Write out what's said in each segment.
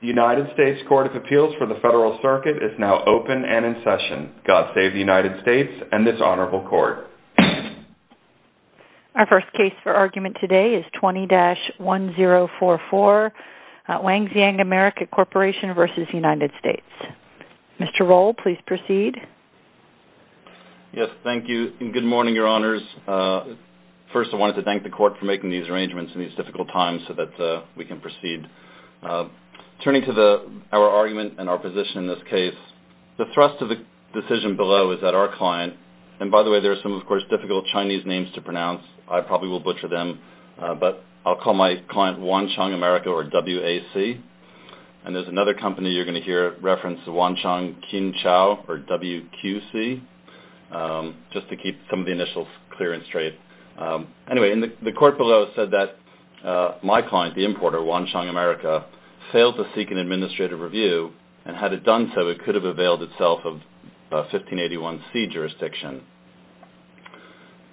The United States Court of Appeals for the Federal Circuit is now open and in session. God save the United States and this Honorable Court. Our first case for argument today is 20-1044, Wangxiang America Corporation v. United States. Mr. Roll, please proceed. Yes, thank you and good morning, Your Honors. First, I wanted to thank the Court for making these arrangements in these difficult times so that we can proceed. Turning to our argument and our position in this case, the thrust of the decision below is that our client – and by the way, there are some, of course, difficult Chinese names to pronounce. I probably will butcher them, but I'll call my client Wangxiang America or WAC. And there's another company you're going to hear reference, Wangxiang Qinchao or WQC. Just to keep some of the initials clear and straight. Anyway, the Court below said that my client, the importer, Wangxiang America, failed to seek an administrative review and had it done so, it could have availed itself of 1581C jurisdiction.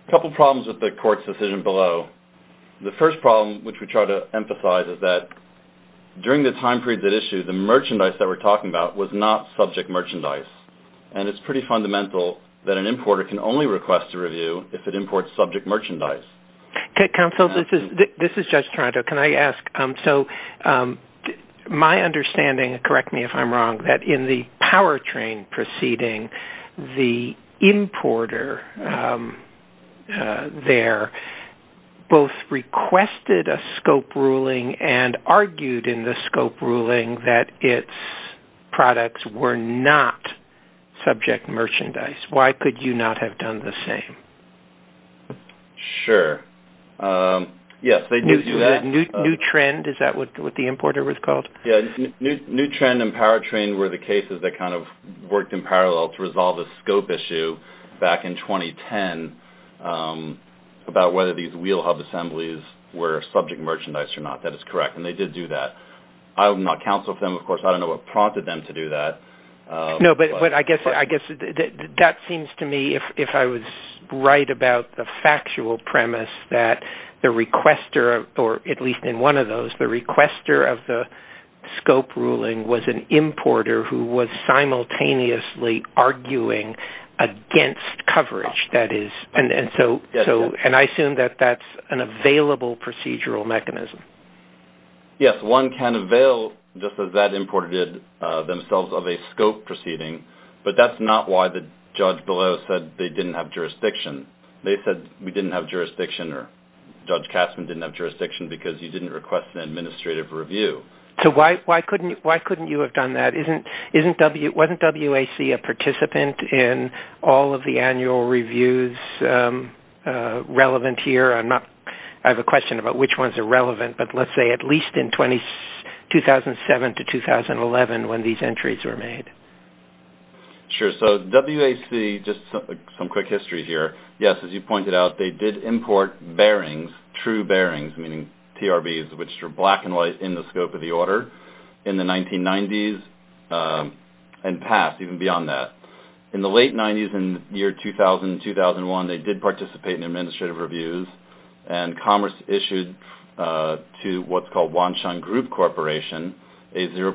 A couple problems with the Court's decision below. The first problem, which we try to emphasize, is that during the time period at issue, the merchandise that we're talking about was not subject merchandise and it's pretty fundamental that an importer can only request a review if it imports subject merchandise. Counsel, this is Judge Toronto. Can I ask, so my understanding, correct me if I'm wrong, that in the powertrain proceeding, the importer there both requested a scope ruling and argued in the scope ruling that its products were not subject merchandise. Why could you not have done the same? Sure. Yes, they do do that. New trend, is that what the importer was called? Yeah, new trend and powertrain were the cases that kind of worked in parallel to resolve a scope issue back in 2010 about whether these wheel hub assemblies were subject merchandise or not. That is correct, and they did do that. I'm not counsel for them, of course. I don't know what prompted them to do that. No, but I guess that seems to me, if I was right about the factual premise, that the requester, or at least in one of those, the requester of the scope ruling was an importer who was simultaneously arguing against coverage, that is, and I assume that that's an available procedural mechanism. Yes, one can avail, just as that importer did, themselves of a scope proceeding, but that's not why the judge below said they didn't have jurisdiction. They said we didn't have jurisdiction or Judge Kassman didn't have jurisdiction because you didn't request an administrative review. So why couldn't you have done that? Wasn't WAC a participant in all of the annual reviews relevant here? I have a question about which ones are relevant, but let's say at least in 2007 to 2011 when these entries were made. Sure. So WAC, just some quick history here, yes, as you pointed out, they did import bearings, true bearings, meaning TRBs, which are black and white in the scope of the order in the 1990s and past, even beyond that. In the late 90s, in the year 2000-2001, they did participate in administrative reviews and Commerce issued to what's called Wansheng Group Corporation a 0%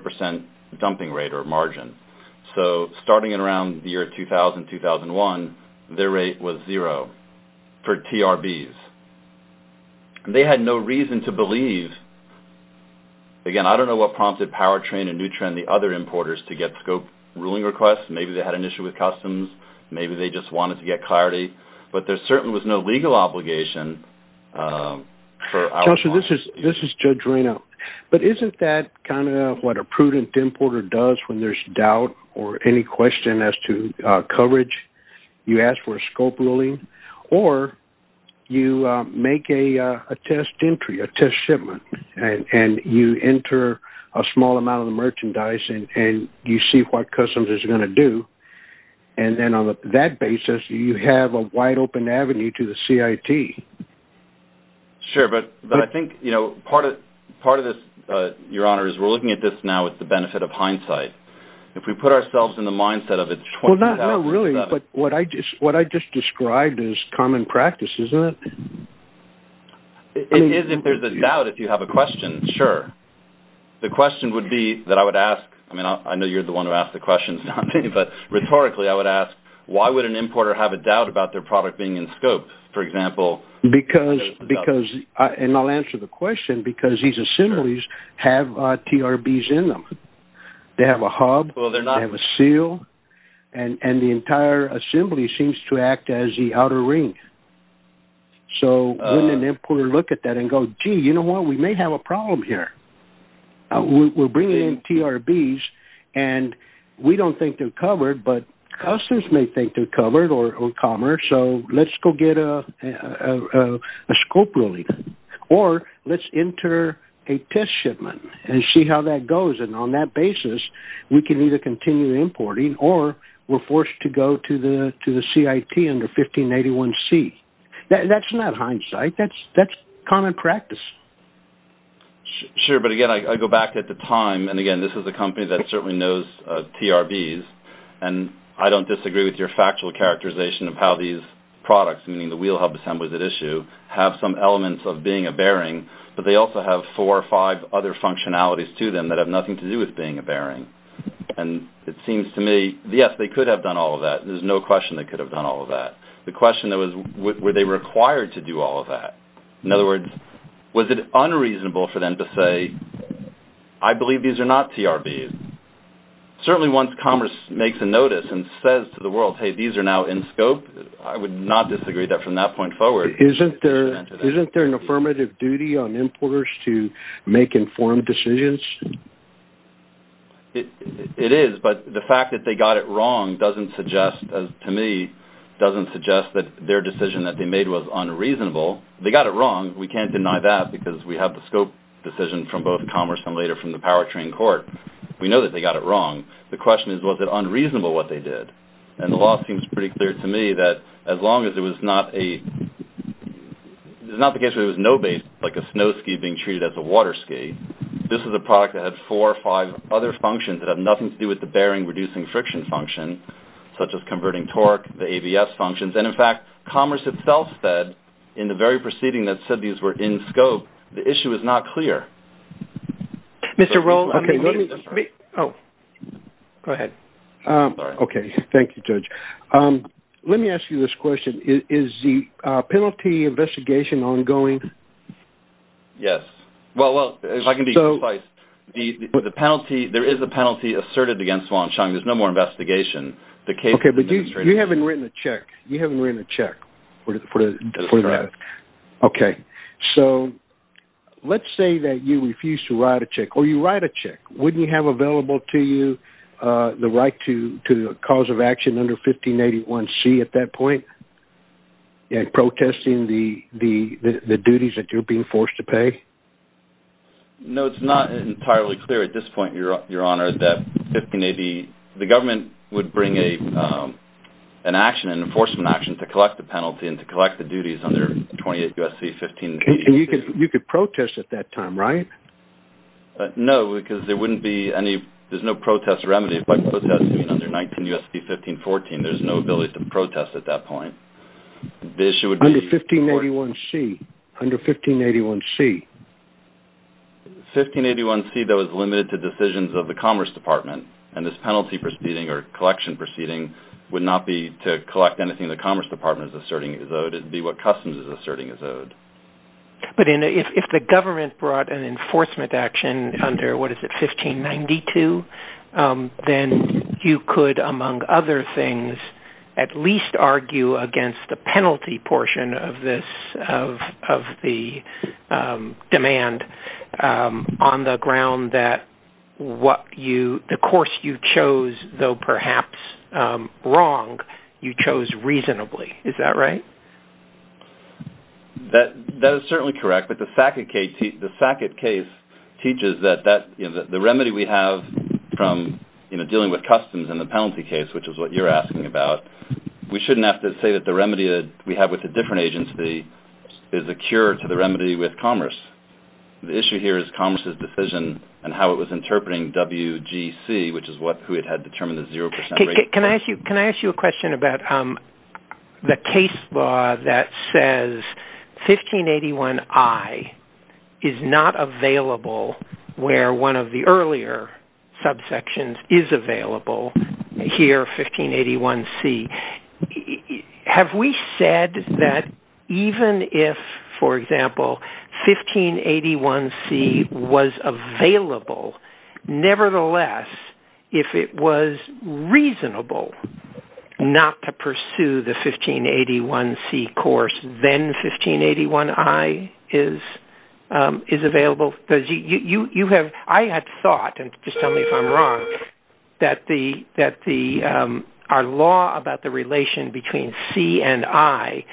dumping rate or margin. So starting in around the year 2000-2001, their rate was zero for TRBs. They had no reason to believe, again, I don't know what prompted Powertrain and Nutrien and the other importers to get scope ruling requests. Maybe they had an issue with customs. Maybe they just wanted to get clarity. But there certainly was no legal obligation. Chelsea, this is Judge Reno. But isn't that kind of what a prudent importer does when there's doubt or any question as to coverage? You ask for a scope ruling, or you make a test entry, a test shipment, and you enter a small amount of the merchandise and you see what customs is going to do. And then on that basis, you have a wide-open avenue to the CIT. Sure. But I think part of this, Your Honor, is we're looking at this now with the benefit of hindsight. If we put ourselves in the mindset of it's 20,000. Well, not really. But what I just described is common practice, isn't it? It is if there's a doubt, if you have a question, sure. The question would be that I would ask, I mean, I know you're the one who asked the questions, but rhetorically I would ask, why would an importer have a doubt about their product being in scope? For example, Because, and I'll answer the question, because these assemblies have TRBs in them. They have a hub, they have a seal, and the entire assembly seems to act as the outer ring. So wouldn't an importer look at that and go, gee, you know what, we may have a problem here. We're bringing in TRBs and we don't think they're covered, but customers may think they're covered or commerce, so let's go get a scope release. Or let's enter a test shipment and see how that goes. And on that basis, we can either continue importing or we're forced to go to the CIT under 1581C. That's not hindsight. That's common practice. Sure, but again, I go back at the time, and again, this is a company that certainly knows TRBs, and I don't disagree with your factual characterization of how these products, meaning the wheel hub assemblies at issue, have some elements of being a bearing, but they also have four or five other functionalities to them that have nothing to do with being a bearing. And it seems to me, yes, they could have done all of that. There's no question they could have done all of that. The question was, were they required to do all of that? In other words, was it unreasonable for them to say, I believe these are not TRBs? Certainly once commerce makes a notice and says to the world, hey, these are now in scope, I would not disagree from that point forward. Isn't there an affirmative duty on importers to make informed decisions? It is, but the fact that they got it wrong doesn't suggest, to me, doesn't suggest that their decision that they made was unreasonable. They got it wrong. We can't deny that because we have the scope decision from both commerce and later from the powertrain court. We know that they got it wrong. The question is, was it unreasonable what they did? And the law seems pretty clear to me that as long as it was not a – it's not the case where there was no base, like a snow ski being treated as a water ski. This is a product that had four or five other functions that have nothing to do with the bearing reducing friction function, such as converting torque, the ABS functions. And, in fact, commerce itself said in the very proceeding that said these were in scope, the issue is not clear. Mr. Rowe, let me – Oh, go ahead. Okay. Thank you, Judge. Let me ask you this question. Is the penalty investigation ongoing? Yes. Well, if I can be concise, there is a penalty asserted against Wong Chung. There's no more investigation. Okay, but you haven't written a check. You haven't written a check for that. Okay. So let's say that you refuse to write a check or you write a check. Wouldn't you have available to you the right to cause of action under 1581C at that point in protesting the duties that you're being forced to pay? No, it's not entirely clear at this point, Your Honor, that 1580 – the government would bring an action, an enforcement action, to collect the penalty and to collect the duties under 28 U.S.C. 1581C. You could protest at that time, right? No, because there wouldn't be any – there's no protest remedy. If I protest under 19 U.S.C. 1514, there's no ability to protest at that point. The issue would be – Under 1581C. Under 1581C. 1581C, that was limited to decisions of the Commerce Department, and this penalty proceeding or collection proceeding would not be to collect anything the Commerce Department is asserting is owed. It would be what Customs is asserting is owed. But if the government brought an enforcement action under, what is it, 1592, then you could, among other things, at least argue against the penalty portion of this – of the demand on the ground that what you – the course you chose, though perhaps wrong, you chose reasonably. Is that right? That is certainly correct. But the Sackett case teaches that the remedy we have from dealing with Customs in the penalty case, which is what you're asking about, we shouldn't have to say that the remedy we have with a different agency is a cure to the remedy with Commerce. The issue here is Commerce's decision and how it was interpreting WGC, which is what – who had determined the 0 percent rate. Can I ask you a question about the case law that says 1581I is not available where one of the earlier subsections is available here, 1581C. Have we said that even if, for example, 1581C was available, nevertheless, if it was reasonable not to pursue the 1581C course, then 1581I is available? Because you have – I had thought, and just tell me if I'm wrong, that the – our law about the relation between C and I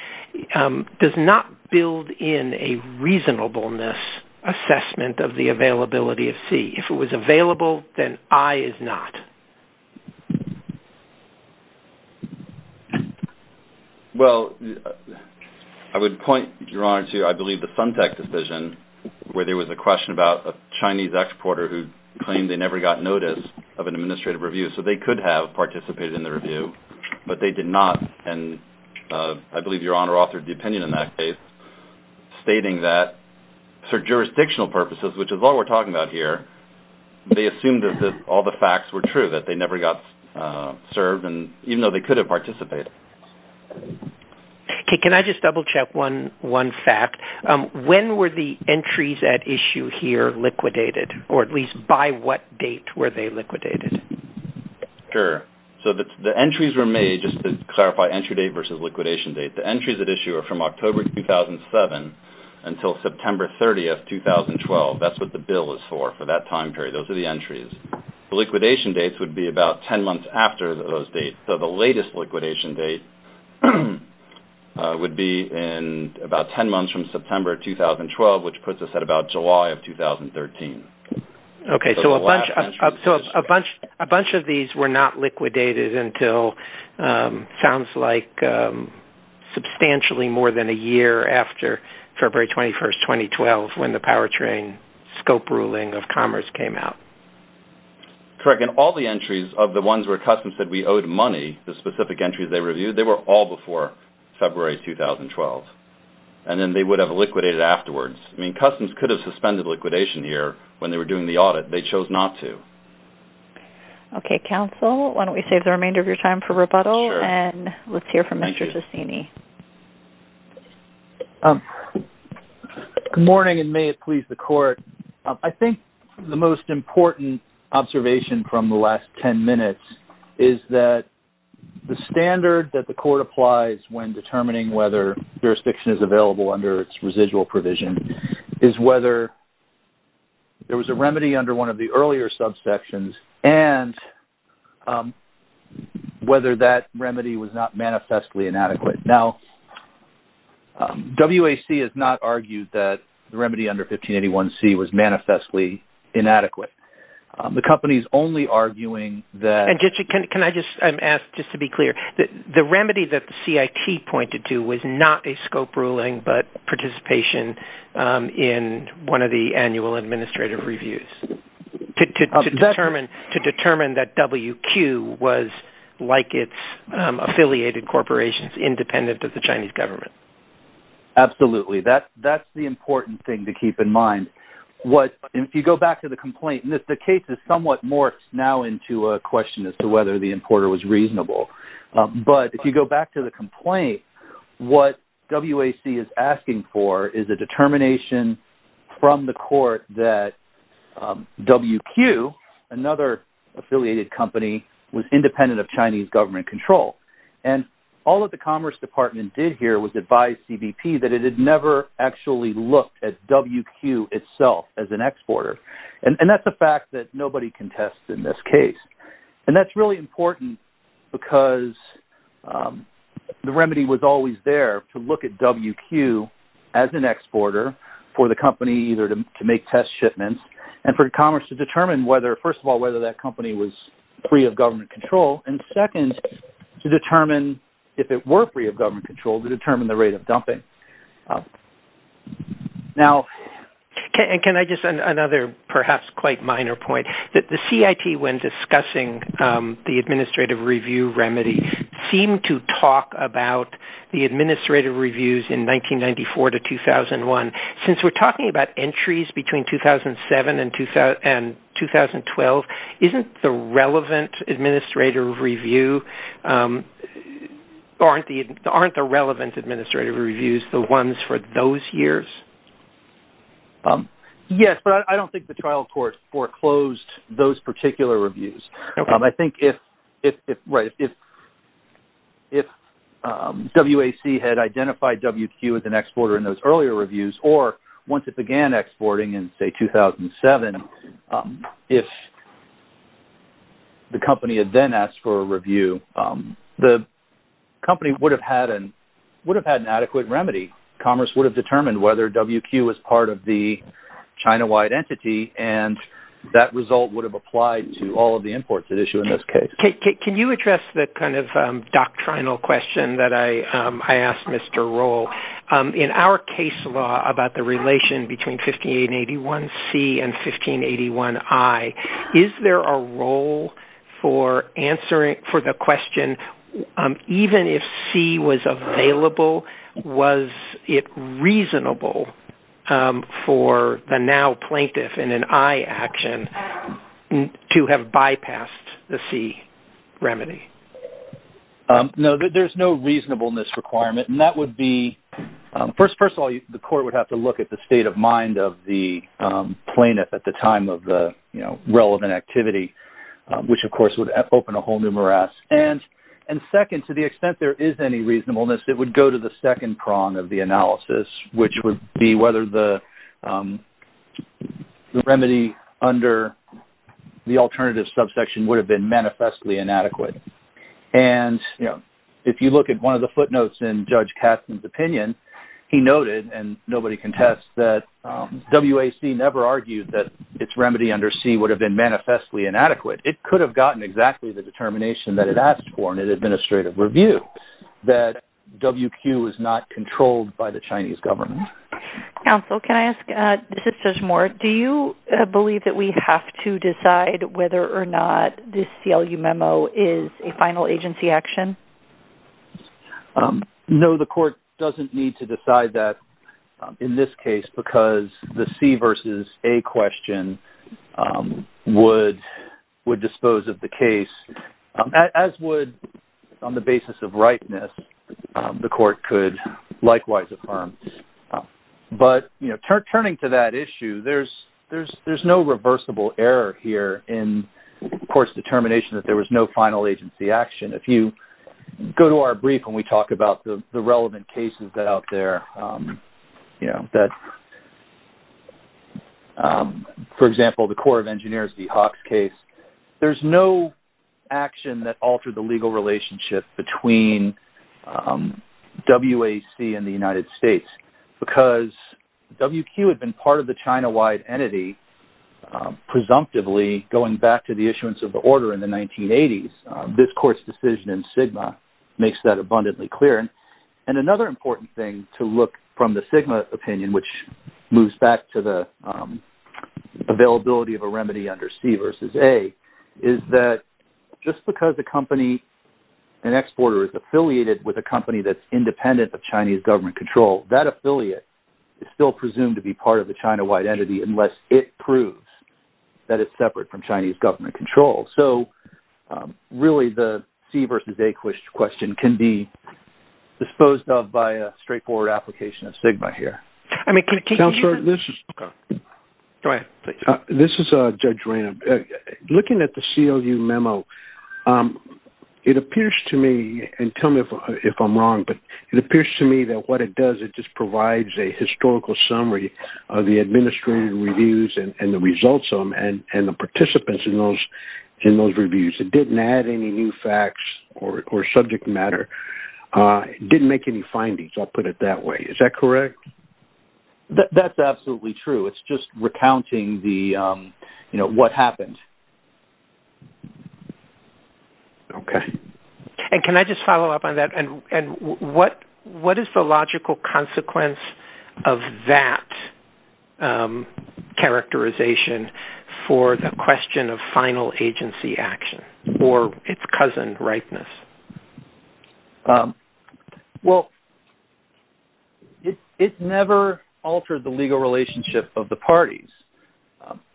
does not build in a reasonableness assessment of the availability of C. If it was available, then I is not. Well, I would point, Your Honor, to, I believe, the Suntec decision where there was a question about a Chinese exporter who claimed they never got notice of an administrative review, so they could have participated in the review, but they did not. And I believe Your Honor authored the opinion in that case, stating that for jurisdictional purposes, which is all we're talking about here, they assumed that all the facts were true, that they never got served, even though they could have participated. Okay. Can I just double-check one fact? When were the entries at issue here liquidated, or at least by what date were they liquidated? Sure. So the entries were made, just to clarify, entry date versus liquidation date. The entries at issue are from October 2007 until September 30, 2012. That's what the bill is for, for that time period. Those are the entries. The liquidation dates would be about 10 months after those dates. So the latest liquidation date would be in about 10 months from September 2012, which puts us at about July of 2013. Okay. So a bunch of these were not liquidated until, sounds like substantially more than a year after February 21, 2012, when the powertrain scope ruling of Commerce came out. Correct. And all the entries of the ones where Customs said we owed money, the specific entries they reviewed, they were all before February 2012. And then they would have liquidated afterwards. I mean, Customs could have suspended liquidation here when they were doing the audit. They chose not to. Okay. Counsel, why don't we save the remainder of your time for rebuttal, and let's hear from Mr. Ciccini. Thank you. Good morning, and may it please the Court. I think the most important observation from the last 10 minutes is that the standard that the Court applies when determining whether jurisdiction is available under its residual provision is whether there was a remedy under one of the earlier subsections, and whether that remedy was not manifestly inadequate. Now, WAC has not argued that the remedy under 1581C was manifestly inadequate. The company is only arguing that the remedy that the CIT pointed to was not a scope ruling but participation in one of the annual administrative reviews. To determine that WQ was like its affiliated corporations independent of the Chinese government. Absolutely. That's the important thing to keep in mind. If you go back to the complaint, and the case is somewhat more now into a question as to whether the importer was reasonable. But if you go back to the complaint, what WAC is asking for is a determination from the Court that WQ, another affiliated company, was independent of Chinese government control. And all that the Commerce Department did here was advise CBP that it had never actually looked at WQ itself as an exporter. And that's a fact that nobody can test in this case. And that's really important because the remedy was always there to look at WQ as an exporter for the company either to make test shipments and for commerce to determine whether, first of all, whether that company was free of government control. And second, to determine if it were free of government control to determine the rate of dumping. Can I just add another perhaps quite minor point? The CIT when discussing the administrative review remedy seemed to talk about the administrative reviews in 1994 to 2001. Since we're talking about entries between 2007 and 2012, aren't the relevant administrative reviews the ones for those years? Yes, but I don't think the trial court foreclosed those particular reviews. I think if WAC had identified WQ as an exporter in those earlier reviews or once it began exporting in, say, 2007, if the company had then asked for a review, the company would have had an adequate remedy. Commerce would have determined whether WQ was part of the China-wide entity and that result would have applied to all of the imports at issue in this case. Can you address the kind of doctrinal question that I asked Mr. Rohl? In our case law about the relation between 1581C and 1581I, is there a role for answering for the question even if C was available, was it reasonable for the now plaintiff in an I action to have bypassed the C remedy? No, there's no reasonableness requirement. First of all, the court would have to look at the state of mind of the plaintiff at the time of the relevant activity, which of course would open a whole new morass. And second, to the extent there is any reasonableness, it would go to the second prong of the analysis, which would be whether the remedy under the alternative subsection would have been manifestly inadequate. And if you look at one of the footnotes in Judge Katzen's opinion, he noted and nobody contests that WAC never argued that its remedy under C would have been manifestly inadequate. It could have gotten exactly the determination that it asked for in an administrative review that WQ is not controlled by the Chinese government. Counsel, can I ask, this is Judge Moore, do you believe that we have to decide whether or not this CLU memo is a final agency action? No, the court doesn't need to decide that in this case because the C versus A question would dispose of the case, as would, on the basis of rightness, the court could likewise affirm. But, you know, turning to that issue, there's no reversible error here in the court's determination that there was no final agency action. If you go to our brief when we talk about the relevant cases out there, you know, that, for example, the Corps of Engineers, the Hawks case, there's no action that altered the legal relationship between WAC and the United States because WQ had been part of the China-wide entity, presumptively going back to the issuance of the order in the 1980s. This court's decision in SGMA makes that abundantly clear. And another important thing to look from the SGMA opinion, which moves back to the availability of a remedy under C versus A, is that just because a company, an exporter, is affiliated with a company that's independent of Chinese government control, that affiliate is still presumed to be part of the China-wide entity unless it proves that it's separate from Chinese government control. So, really, the C versus A question can be disposed of by a straightforward application of SGMA here. Counselor, this is Judge Rand. Looking at the CLU memo, it appears to me, and tell me if I'm wrong, but it appears to me that what it does, it just provides a historical summary of the administrative reviews and the results of them and the participants in those reviews. It didn't add any new facts or subject matter. It didn't make any findings, I'll put it that way. Is that correct? That's absolutely true. It's just recounting what happened. Okay. And can I just follow up on that? And what is the logical consequence of that characterization for the question of final agency action or its cousin, rightness? Well, it never altered the legal relationship of the parties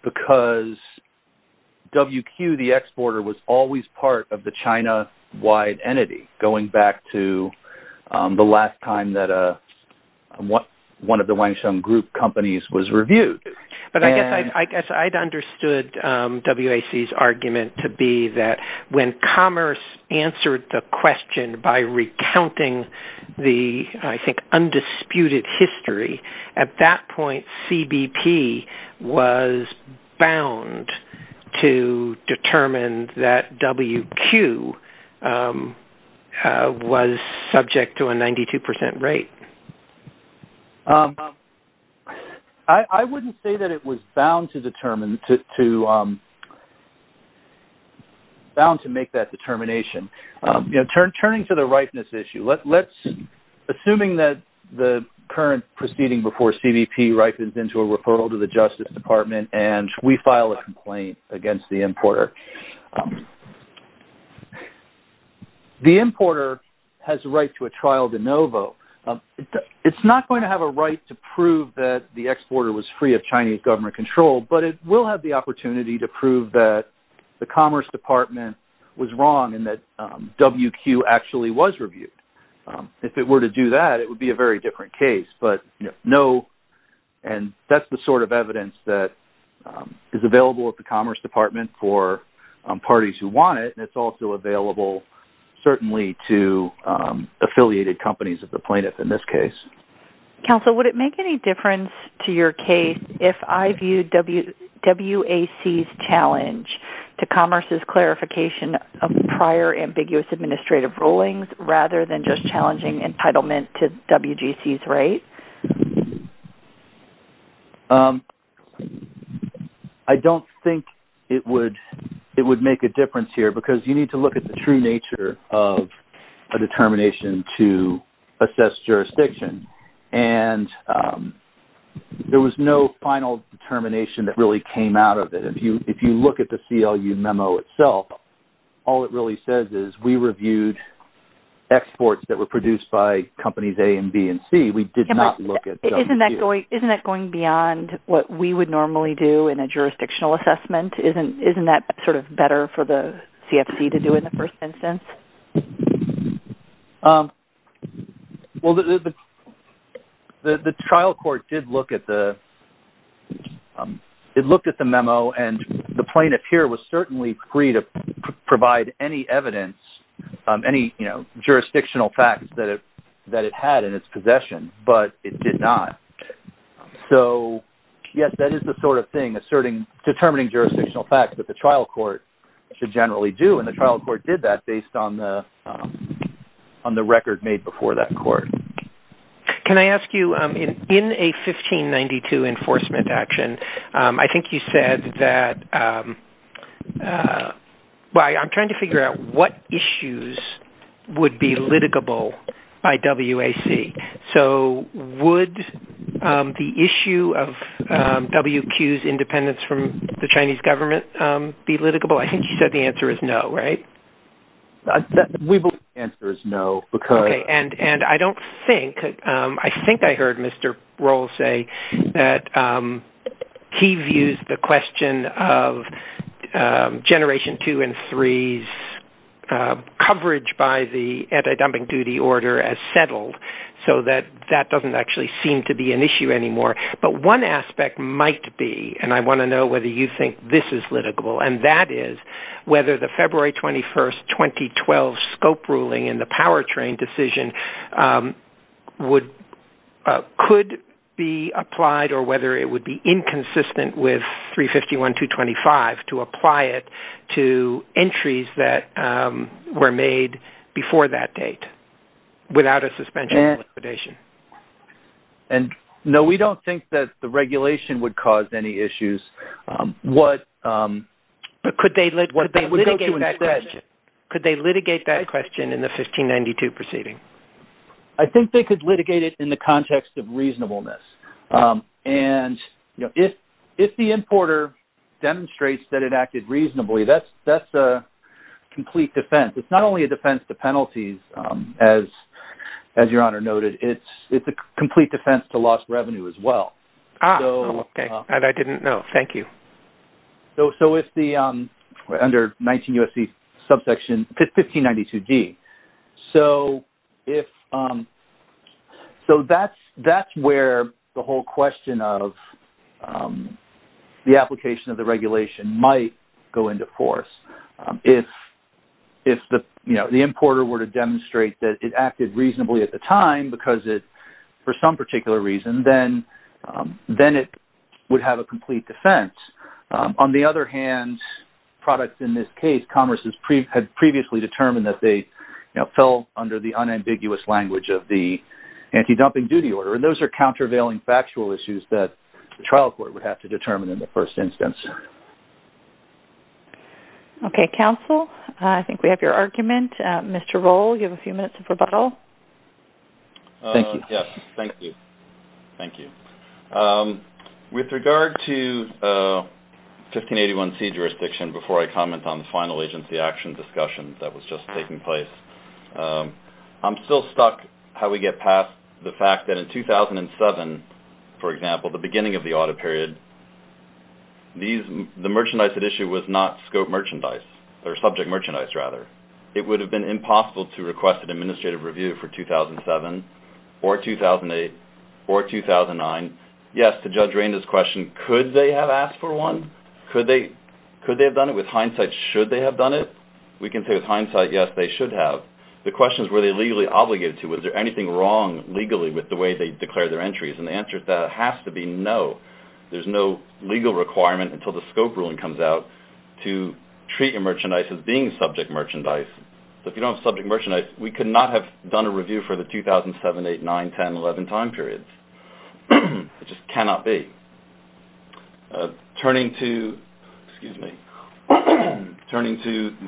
because WQ, the exporter, was always part of the China-wide entity, going back to the last time that one of the Wangsheng Group companies was reviewed. But I guess I'd understood WAC's argument to be that when commerce answered the question by recounting the, I think, undisputed history, at that point CBP was bound to determine that WQ was subject to a 92% rate. I wouldn't say that it was bound to make that determination. Turning to the rightness issue, assuming that the current proceeding before CBP ripens into a referral to the Justice Department and we file a complaint against the importer, the importer has the right to a trial de novo. It's not going to have a right to prove that the exporter was free of Chinese government control, but it will have the opportunity to prove that the Commerce Department was wrong and that WQ actually was reviewed. If it were to do that, it would be a very different case. And that's the sort of evidence that is available at the Commerce Department for parties who want it. And it's also available, certainly, to affiliated companies of the plaintiff in this case. Counsel, would it make any difference to your case if I viewed WAC's challenge to Commerce's clarification of prior ambiguous administrative rulings rather than just challenging entitlement to WGC's rate? I don't think it would make a difference here because you need to look at the true nature of a determination to assess jurisdiction. And there was no final determination that really came out of it. If you look at the CLU memo itself, all it really says is we reviewed exports that were produced by companies A and B and C. Isn't that going beyond what we would normally do in a jurisdictional assessment? Isn't that sort of better for the CFC to do in the first instance? The trial court did look at the memo, and the plaintiff here was certainly free to provide any evidence, any jurisdictional facts that it had in its possession, but it did not. So, yes, that is the sort of thing, determining jurisdictional facts that the trial court should generally do. And the trial court did that based on the record made before that court. Can I ask you, in a 1592 enforcement action, I think you said that – well, I'm trying to figure out what issues would be litigable by WAC. So would the issue of WQ's independence from the Chinese government be litigable? I think you said the answer is no, right? We believe the answer is no. And I don't think – I think I heard Mr. Rohl say that he views the question of generation 2 and 3's coverage by the anti-dumping duty order as settled, so that that doesn't actually seem to be an issue anymore. But one aspect might be, and I want to know whether you think this is litigable, and that is whether the February 21, 2012 scope ruling in the powertrain decision could be applied or whether it would be inconsistent with 351.225 to apply it to entries that were made before that date without a suspension of liquidation. And, no, we don't think that the regulation would cause any issues. But could they litigate that question in the 1592 proceeding? I think they could litigate it in the context of reasonableness. And if the importer demonstrates that it acted reasonably, that's a complete defense. It's not only a defense to penalties, as Your Honor noted. It's a complete defense to lost revenue as well. Ah, okay. And I didn't know. Thank you. So if the, under 19 U.S.C. subsection, 1592G, so that's where the whole question of the application of the regulation might go into force. If the importer were to demonstrate that it acted reasonably at the time because it, for some particular reason, then it would have a complete defense. On the other hand, products in this case, commerce had previously determined that they fell under the unambiguous language of the anti-dumping duty order. And those are countervailing factual issues that the trial court would have to determine in the first instance. Okay. Counsel, I think we have your argument. Mr. Rohl, you have a few minutes of rebuttal. Thank you. Yes. Thank you. Thank you. With regard to 1581C jurisdiction, before I comment on the final agency action discussion that was just taking place, I'm still stuck how we get past the fact that in 2007, for example, the beginning of the audit period, the merchandise at issue was not scope merchandise, or subject merchandise, rather. It would have been impossible to request an administrative review for 2007 or 2008 or 2009. Yes, to Judge Raina's question, could they have asked for one? Could they have done it? With hindsight, should they have done it? We can say with hindsight, yes, they should have. The question is, were they legally obligated to? Was there anything wrong legally with the way they declared their entries? And the answer to that has to be no. There's no legal requirement until the scope ruling comes out to treat your merchandise as being subject merchandise. If you don't have subject merchandise, we could not have done a review for the 2007, 2008, 2009, 2010, 2011 time periods. It just cannot be. Turning to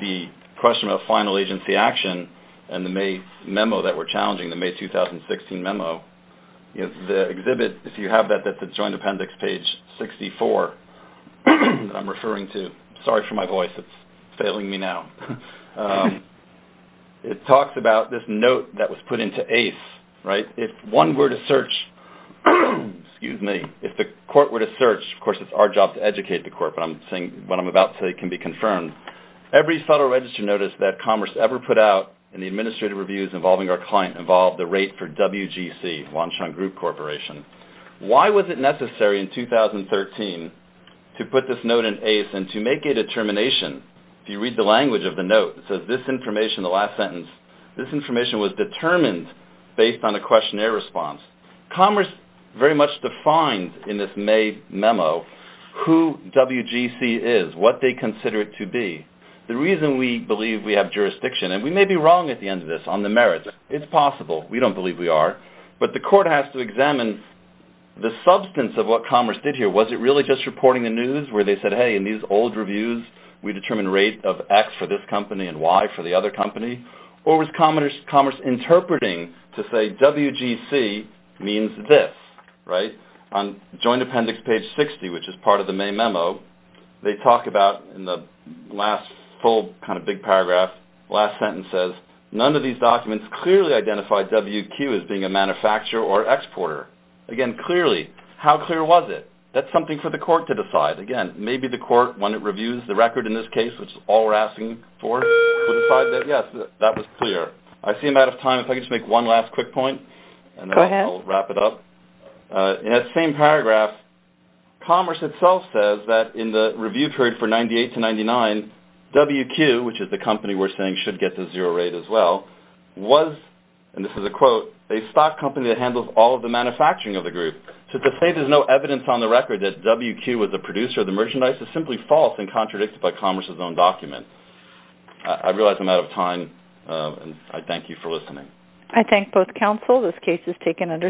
the question of final agency action and the May memo that we're challenging, the May 2016 memo, the exhibit, if you have that, that's at Joint Appendix page 64 that I'm referring to. Sorry for my voice. It's failing me now. It talks about this note that was put into ACE. If one were to search, if the court were to search, of course, it's our job to educate the court, but what I'm about to say can be confirmed. Every Federal Register notice that Commerce ever put out in the administrative reviews involving our client involved the rate for WGC, Wanshan Group Corporation. Why was it necessary in 2013 to put this note in ACE and to make a determination? If you read the language of the note, it says this information, the last sentence, this information was determined based on a questionnaire response. Commerce very much defined in this May memo who WGC is, what they consider it to be. The reason we believe we have jurisdiction, and we may be wrong at the end of this on the merits, it's possible, we don't believe we are, but the court has to examine the substance of what Commerce did here. Was it really just reporting the news where they said, hey, in these old reviews, we determine rate of X for this company and Y for the other company, or was Commerce interpreting to say WGC means this? On joint appendix page 60, which is part of the May memo, they talk about in the last full kind of big paragraph, last sentence says, none of these documents clearly identify WQ as being a manufacturer or exporter. Again, clearly. How clear was it? That's something for the court to decide. Again, maybe the court, when it reviews the record in this case, which is all we're asking for, will decide that, yes, that was clear. I see I'm out of time. If I could just make one last quick point, and then I'll wrap it up. Go ahead. In that same paragraph, Commerce itself says that in the review period for 98 to 99, WQ, which is the company we're saying should get the zero rate as well, was, and this is a quote, a stock company that handles all of the manufacturing of the group. So to say there's no evidence on the record that WQ was the producer of the merchandise is simply false and contradicted by Commerce's own document. I realize I'm out of time, and I thank you for listening. I thank both counsel. This case is taken under submission.